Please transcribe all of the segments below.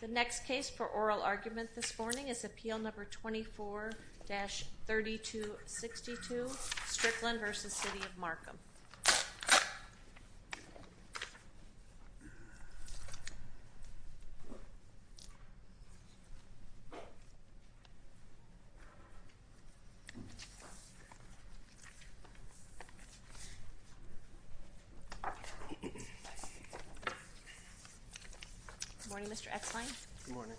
The next case for oral argument this morning is Appeal No. 24-3262 Strickland v. City of Markham Good morning Mr. Exline Good morning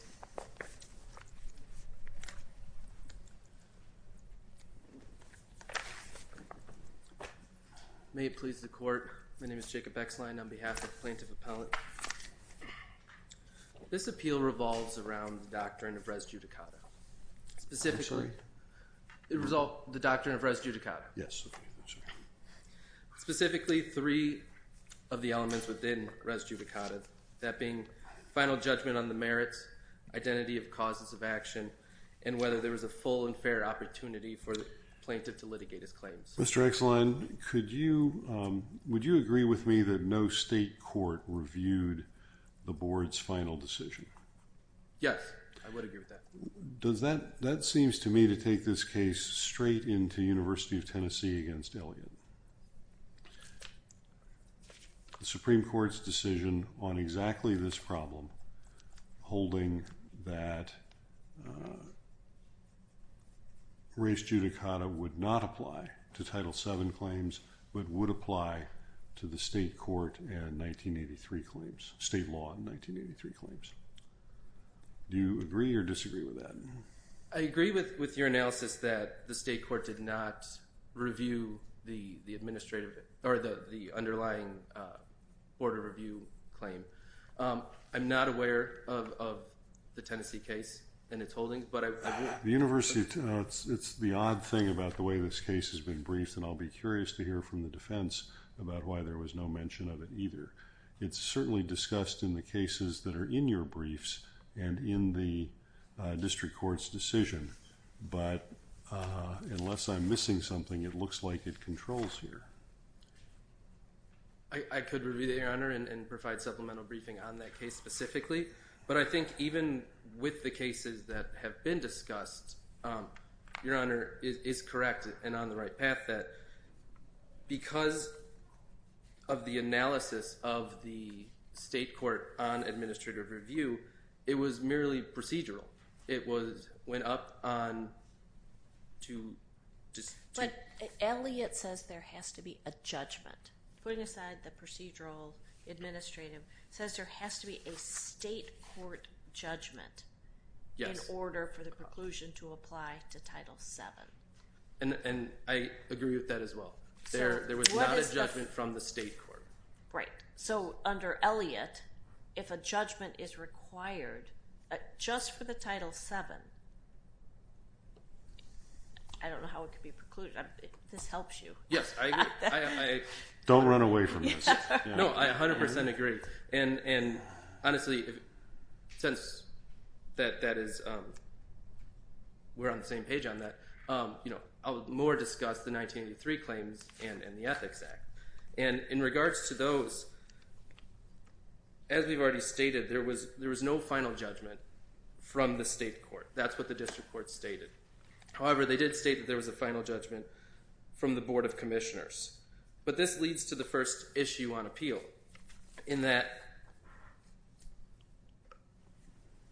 May it please the court, my name is Jacob Exline on behalf of the Plaintiff Appellant This appeal revolves around the doctrine of res judicata Specifically The doctrine of res judicata Yes Specifically three of the elements within res judicata That being final judgment on the merits, identity of causes of action, and whether there was a full and fair opportunity for the plaintiff to litigate his claims Mr. Exline, would you agree with me that no state court reviewed the board's final decision? Yes, I would agree with that That seems to me to take this case straight into University of Tennessee v. Elliott The Supreme Court's decision on exactly this problem Holding that Res judicata would not apply to Title VII claims, but would apply to the state court and 1983 claims State law and 1983 claims Do you agree or disagree with that? I agree with your analysis that the state court did not review the underlying board of review claim I'm not aware of the Tennessee case and its holdings It's the odd thing about the way this case has been briefed And I'll be curious to hear from the defense about why there was no mention of it either It's certainly discussed in the cases that are in your briefs and in the district court's decision But unless I'm missing something, it looks like it controls here I could review that, Your Honor, and provide supplemental briefing on that case specifically But I think even with the cases that have been discussed Your Honor is correct and on the right path Because of the analysis of the state court on administrative review It was merely procedural But Elliott says there has to be a judgment Putting aside the procedural administrative, he says there has to be a state court judgment In order for the conclusion to apply to Title VII And I agree with that as well There was not a judgment from the state court So under Elliott, if a judgment is required just for the Title VII I don't know how it could be precluded This helps you Yes, I agree Don't run away from this No, I 100% agree Honestly, since we're on the same page on that I'll more discuss the 1983 claims and the Ethics Act And in regards to those As we've already stated, there was no final judgment from the state court That's what the district court stated However, they did state that there was a final judgment from the Board of Commissioners But this leads to the first issue on appeal In that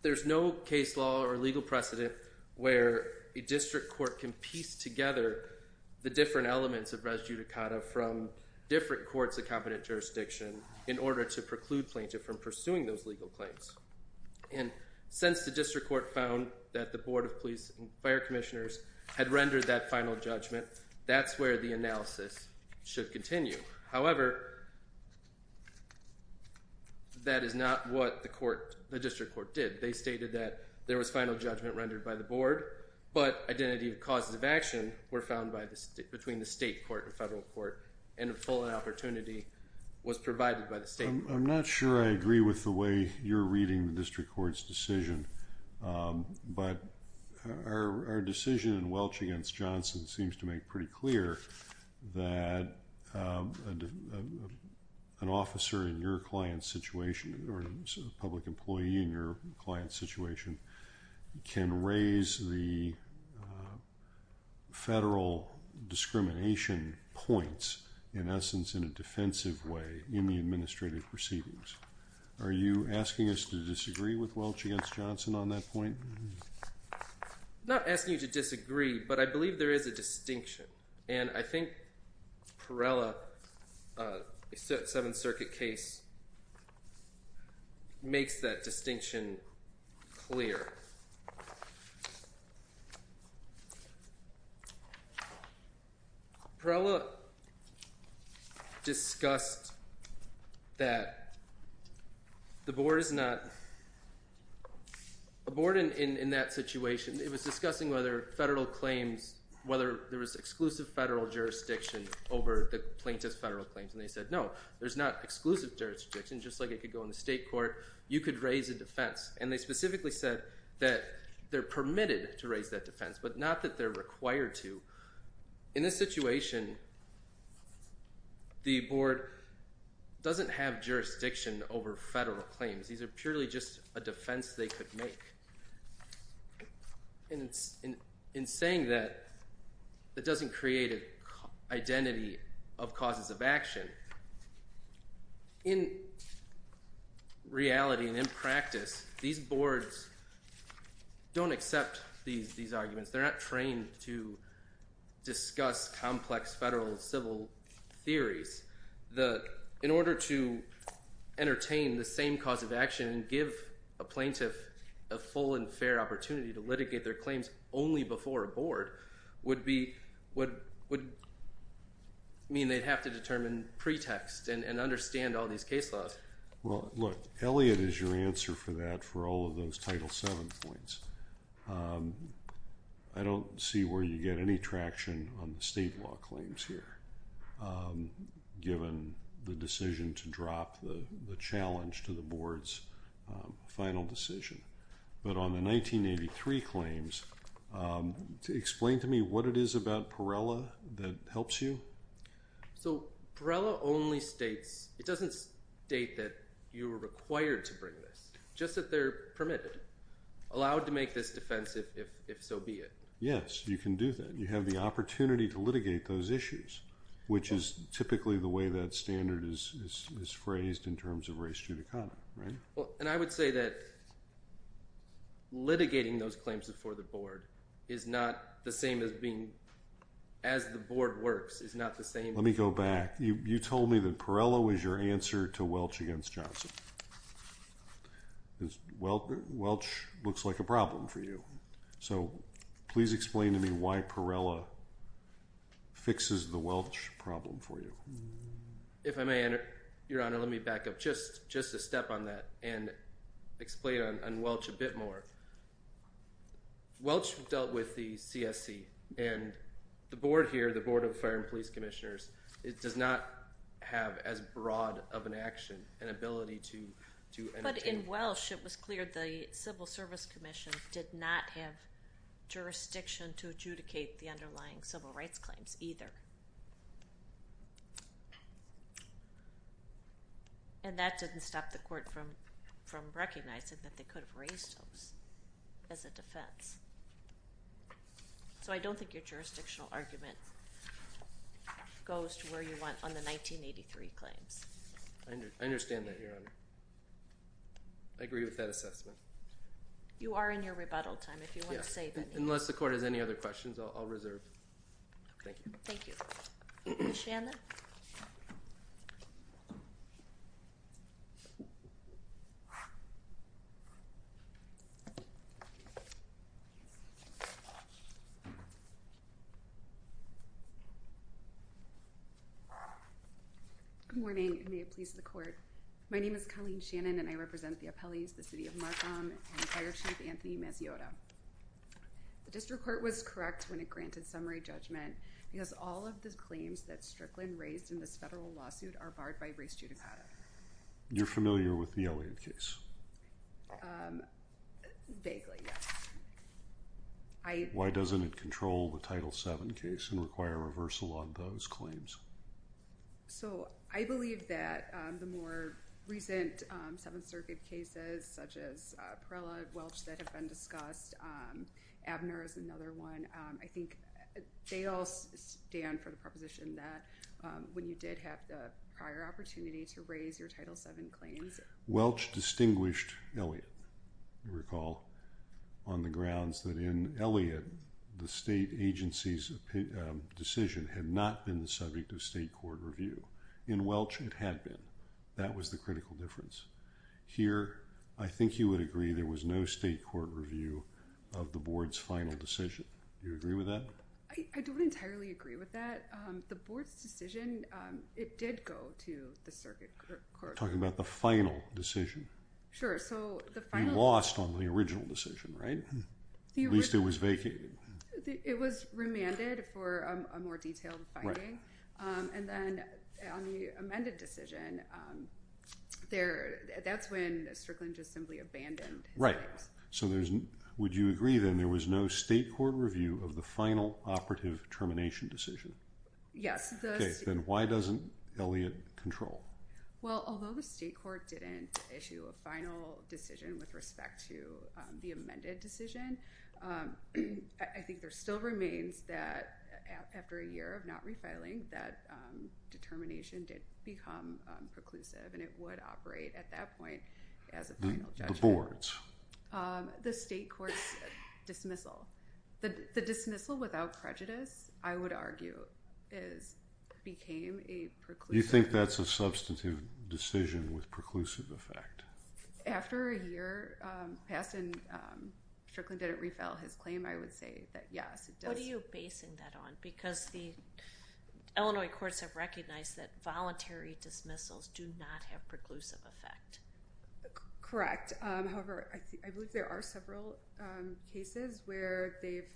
there's no case law or legal precedent Where a district court can piece together the different elements of res judicata From different courts of competent jurisdiction In order to preclude plaintiff from pursuing those legal claims And since the district court found that the Board of Police and Fire Commissioners Had rendered that final judgment That's where the analysis should continue However That is not what the district court did They stated that there was final judgment rendered by the board But identity of causes of action were found between the state court and federal court And a full opportunity was provided by the state court I'm not sure I agree with the way you're reading the district court's decision But our decision in Welch v. Johnson seems to make pretty clear That an officer in your client's situation Or a public employee in your client's situation Can raise the federal discrimination points In essence in a defensive way in the administrative proceedings Are you asking us to disagree with Welch v. Johnson on that point? I'm not asking you to disagree But I believe there is a distinction And I think Perrella's Seventh Circuit case Makes that distinction clear Perrella discussed that the board is not A board in that situation It was discussing whether there was exclusive federal jurisdiction Over the plaintiff's federal claims And they said no, there's not exclusive jurisdiction Just like it could go in the state court You could raise a defense And they specifically said that they're permitted to raise that defense But not that they're required to In this situation The board doesn't have jurisdiction over federal claims These are purely just a defense they could make And in saying that That doesn't create an identity of causes of action In reality and in practice These boards don't accept these arguments They're not trained to discuss complex federal civil theories In order to entertain the same cause of action And give a plaintiff a full and fair opportunity To litigate their claims only before a board Would mean they'd have to determine pretext And understand all these case laws Well, look, Elliot is your answer for that For all of those Title VII points I don't see where you get any traction On the state law claims here Given the decision to drop the challenge To the board's final decision But on the 1983 claims Explain to me what it is about Perella that helps you So Perella only states It doesn't state that you're required to bring this Just that they're permitted Allowed to make this defense if so be it Yes, you can do that You have the opportunity to litigate those issues Which is typically the way that standard is phrased In terms of res judicata, right? And I would say that Litigating those claims before the board Is not the same as being As the board works, is not the same Let me go back You told me that Perella was your answer To Welch against Johnson Welch looks like a problem for you So please explain to me why Perella Fixes the Welch problem for you If I may, Your Honor, let me back up Just a step on that and explain on Welch a bit more Welch dealt with the CSC And the board here, the board of fire and police commissioners It does not have as broad of an action An ability to But in Welch it was clear the civil service commission Did not have jurisdiction to adjudicate The underlying civil rights claims either And that didn't stop the court from recognizing That they could have raised those as a defense So I don't think your jurisdictional argument Goes to where you want on the 1983 claims I understand that, Your Honor I agree with that assessment You are in your rebuttal time if you want to say anything Unless the court has any other questions, I'll reserve Thank you Ms. Shannon Good morning and may it please the court My name is Colleen Shannon and I represent the Appellees The City of Markham and Fire Chief Anthony Maziota The district court was correct when it granted summary judgment Because all of the claims that Strickland raised in this Federal lawsuit are barred by race judicata You're familiar with the Elliott case Vaguely, yes Why doesn't it control the Title VII case And require reversal on those claims? So I believe that the more recent Seventh Circuit cases Such as Perella and Welch that have been discussed Abner is another one I think they all stand for the proposition That when you did have the prior opportunity To raise your Title VII claims Welch distinguished Elliott You recall on the grounds that in Elliott The state agency's decision had not been the subject Of state court review In Welch it had been That was the critical difference Here I think you would agree There was no state court review Of the board's final decision Do you agree with that? I don't entirely agree with that The board's decision It did go to the circuit court You're talking about the final decision Sure, so the final You lost on the original decision, right? At least it was vacated It was remanded for a more detailed finding And then on the amended decision That's when Strickland just simply abandoned Right, so would you agree then There was no state court review Of the final operative termination decision? Yes Okay, then why doesn't Elliott control? Well, although the state court didn't Issue a final decision with respect to The amended decision I think there still remains that After a year of not refiling I think that determination did become Preclusive and it would operate At that point as a final judgment The board's? The state court's dismissal The dismissal without prejudice I would argue is Became a preclusive You think that's a substantive decision With preclusive effect? After a year passed And Strickland didn't refile his claim I would say that yes What are you basing that on? Because the Illinois courts have recognized That voluntary dismissals Do not have preclusive effect Correct, however I believe there are several Cases where they've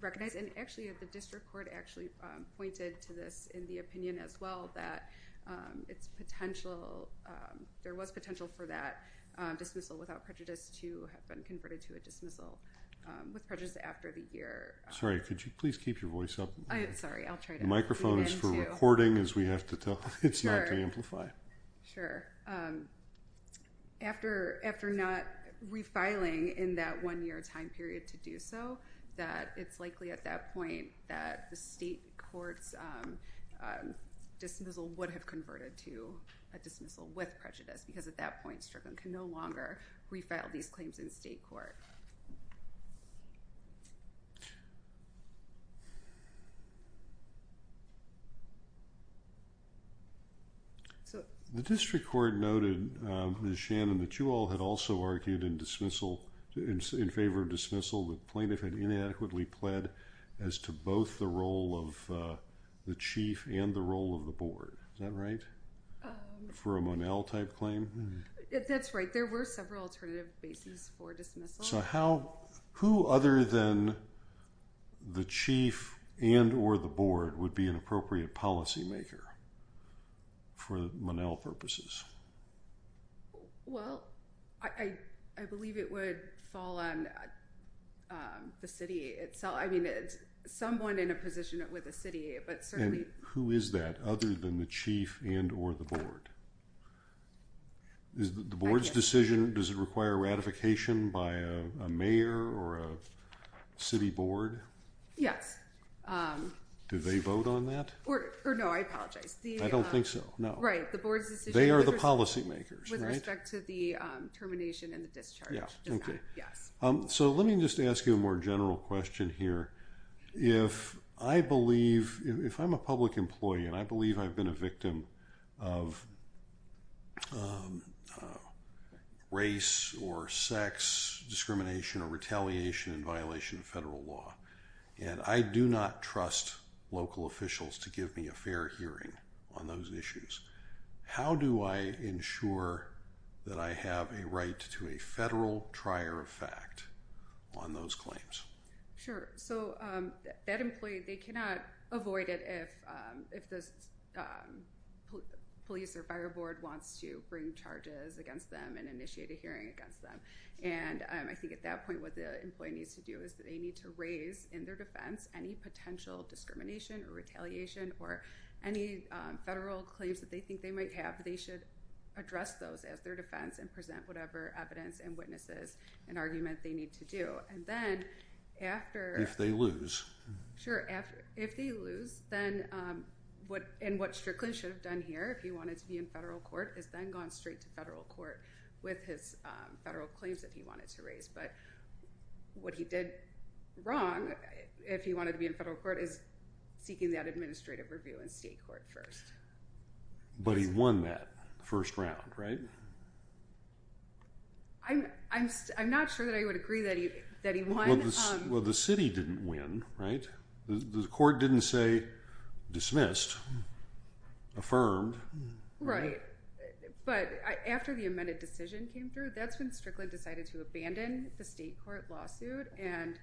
Recognized and actually the district court Actually pointed to this In the opinion as well that It's potential There was potential for that Dismissal without prejudice To have been converted to a dismissal With prejudice after the year Sorry, could you please keep your voice up? Sorry, I'll try to The microphone is for recording as we have to tell It's not to amplify Sure After not refiling In that one year time period to do so That it's likely at that point That the state court's Dismissal would have Converted to a dismissal With prejudice because at that point Strickland can no longer Refile these claims in state court So The district court noted Ms. Shannon that you all had also Argued in dismissal In favor of dismissal that plaintiff had Inadequately pled as to Both the role of The chief and the role of the board Is that right? For a Monell type claim? That's right, there were several alternative Bases for dismissal So how, who other than The chief And or the board would be An appropriate policy maker For Monell purposes? Well, I believe It would fall on The city itself I mean, someone in a position With the city, but certainly Who is that other than the chief and or the board? Is the board's decision Does it require ratification By a mayor or a City board? Yes Do they vote on that? I don't think so They are the policy makers With respect to the termination And the discharge So let me just ask you a more general question Here If I'm a public Employee and I believe I've been a victim Of Race or sex Discrimination or retaliation In violation of federal law And I do not trust local Officials to give me a fair hearing On those issues How do I ensure That I have a right to a Federal trier of fact On those claims? Sure, so that employee They cannot avoid it if If the Police or fire board wants to Bring charges against them and initiate A hearing against them And I think at that point what the employee needs to do Is they need to raise in their defense Any potential discrimination or retaliation Or any Federal claims that they think they might have They should address those as their defense And present whatever evidence and witnesses And argument they need to do And then after If they lose If they lose And what Strickland should have done here If he wanted to be in federal court Is then gone straight to federal court With his federal claims that he wanted to raise But what he did Wrong If he wanted to be in federal court Is seeking that administrative review in state court first But he won that First round, right? I'm not sure that I would agree That he won Well the city didn't win, right? The court didn't say Dismissed Affirmed Right, but after the amended decision came through That's when Strickland decided to abandon The state court lawsuit And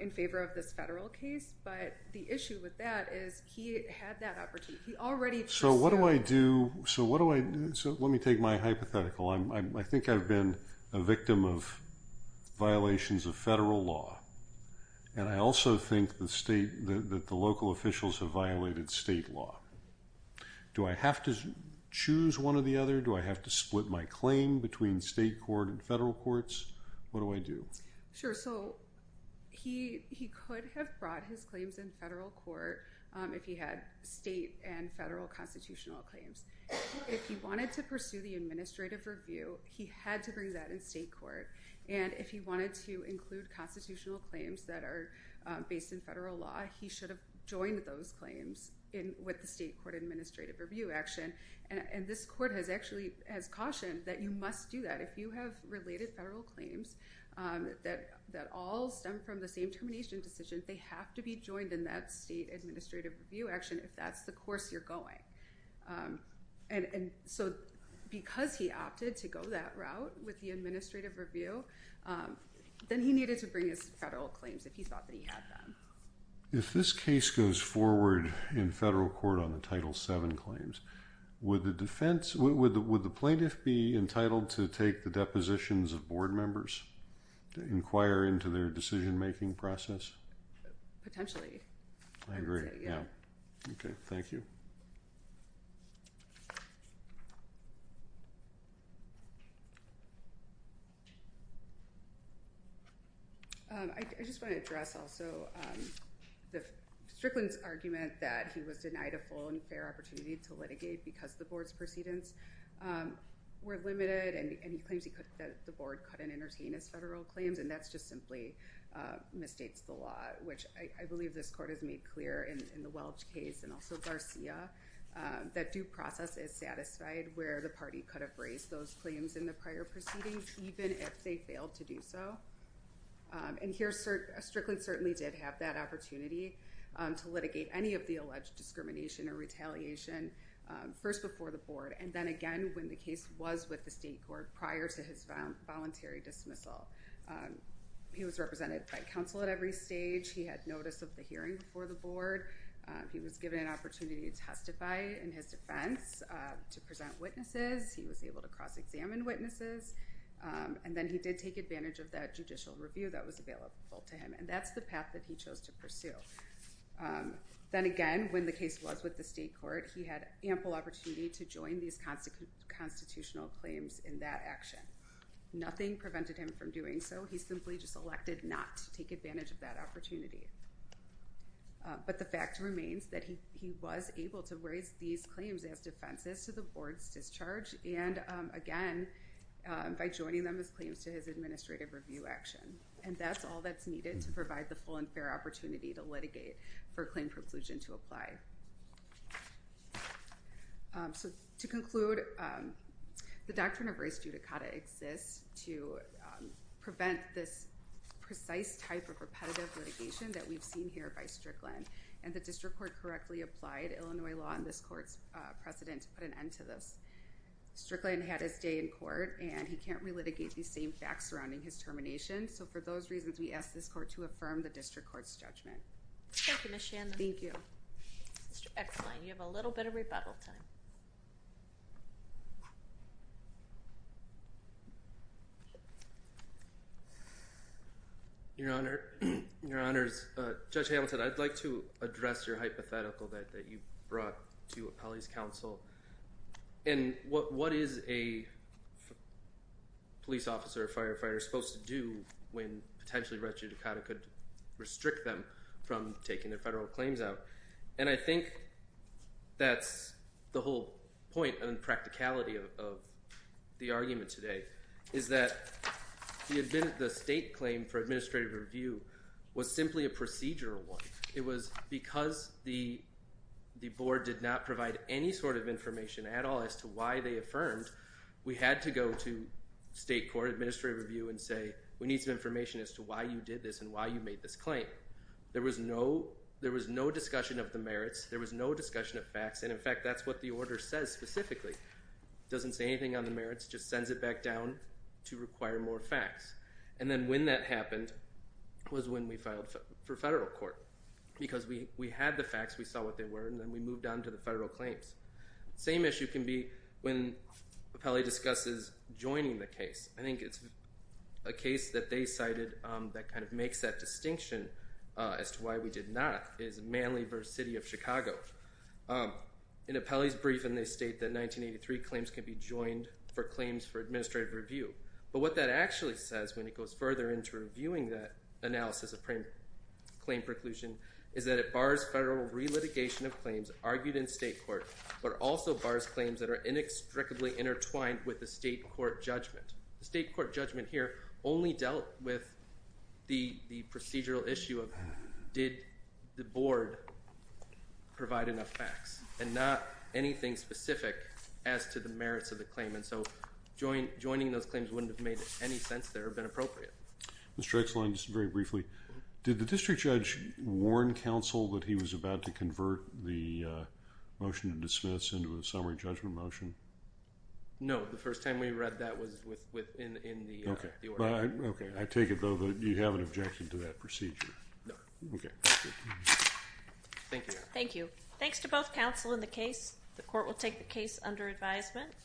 in favor of this federal case But the issue with that Is he had that opportunity He already So what do I do Let me take my hypothetical I think I've been a victim of Violations of federal law And I also think the state That the local officials have violated State law Do I have to choose one or the other Do I have to split my claim Between state court and federal courts What do I do Sure, so he could have Brought his claims in federal court If he had state And federal constitutional claims If he wanted to pursue the administrative Review, he had to bring that In state court And if he wanted to include constitutional claims That are based in federal law He should have joined those claims With the state court administrative review Action and this court Has cautioned that you must Do that if you have related federal claims That all Stem from the same termination decision They have to be joined in that state Administrative review action if that's the course You're going And so because He opted to go that route with the Administrative review Then he needed to bring his Federal claims if he thought that he had them If this case goes Forward in federal court on the title 7 claims Would the plaintiff be Entitled to take the depositions Of board members To inquire into their decision making process Potentially I agree Okay, thank you I just want to address Also Strickland's argument that he was Denied a full and fair opportunity to litigate Because the board's proceedings Were limited and he Claims that the board couldn't entertain his Federal claims and that's just simply Misstates the law which I believe this court has made clear in The Welch case and also Garcia That due process is satisfied Where the party could have raised those Claims in the prior proceedings even If they failed to do so And here Strickland Certainly did have that opportunity To litigate any of the alleged Discrimination or retaliation First before the board and then again When the case was with the state court Prior to his voluntary dismissal He was represented By counsel at every stage, he had Notice of the hearing before the board He was given an opportunity to testify In his defense To present witnesses, he was able to Cross examine witnesses And then he did take advantage of that judicial Review that was available to him and that's The path that he chose to pursue Then again when the case Was with the state court he had ample Opportunity to join these Constitutional claims in that action Nothing prevented him from Doing so, he simply just elected not To take advantage of that opportunity But the fact Remains that he was able to Raise these claims as defenses to the Board's discharge and again By joining them as Claims to his administrative review action And that's all that's needed to provide The full and fair opportunity to litigate For claim preclusion to apply So to conclude The doctrine of race judicata Exists to Prevent this precise Type of repetitive litigation that we've Seen here by Strickland and the district Court correctly applied Illinois law On this court's precedent to put an end To this. Strickland had his Day in court and he can't relitigate These same facts surrounding his termination So for those reasons we ask this court to affirm The district court's judgment. Thank you Ms. Shandler. Thank you. Mr. Ecklein you have a little bit of rebuttal time Your honor Judge Hamilton I'd like to address your Hypothetical that you brought to Appellee's counsel And what is a Police officer Firefighter supposed to do when Potentially race judicata could Restrict them from taking their federal Claims out and I think That's the whole Point and practicality of The argument today Is that The state claim for administrative review Was simply a procedural one It was because the Board did not provide any Sort of information at all as to why They affirmed we had to go to State court administrative review And say we need some information as to why You did this and why you made this claim There was no Discussion of the merits there was no discussion Of facts and in fact that's what the order says Specifically doesn't say anything On the merits just sends it back down To require more facts and then When that happened was when We filed for federal court Because we had the facts we saw what they Were and then we moved on to the federal claims Same issue can be when Appellee discusses joining The case I think it's A case that they cited that Kind of makes that distinction As to why we did not is Manly Versus city of Chicago In Appellee's briefing they state that 1983 claims can be joined For claims for administrative review But what that actually says when it goes further Into reviewing that analysis Of claim preclusion Is that it bars federal relitigation Of claims argued in state court But also bars claims that are inextricably Intertwined with the state court Judgment the state court judgment here Only dealt with The procedural issue of Did the board Provide enough facts And not anything specific As to the merits of the claim and so Joining those claims wouldn't have Made any sense there or been appropriate Mr. Exline just very briefly Did the district judge warn Counsel that he was about to convert The motion to dismiss Into a summary judgment motion No the first time we read that Was within the I take it though that you haven't Objected to that procedure Okay Thank you Thanks to both counsel in the case The court will take the case under advisement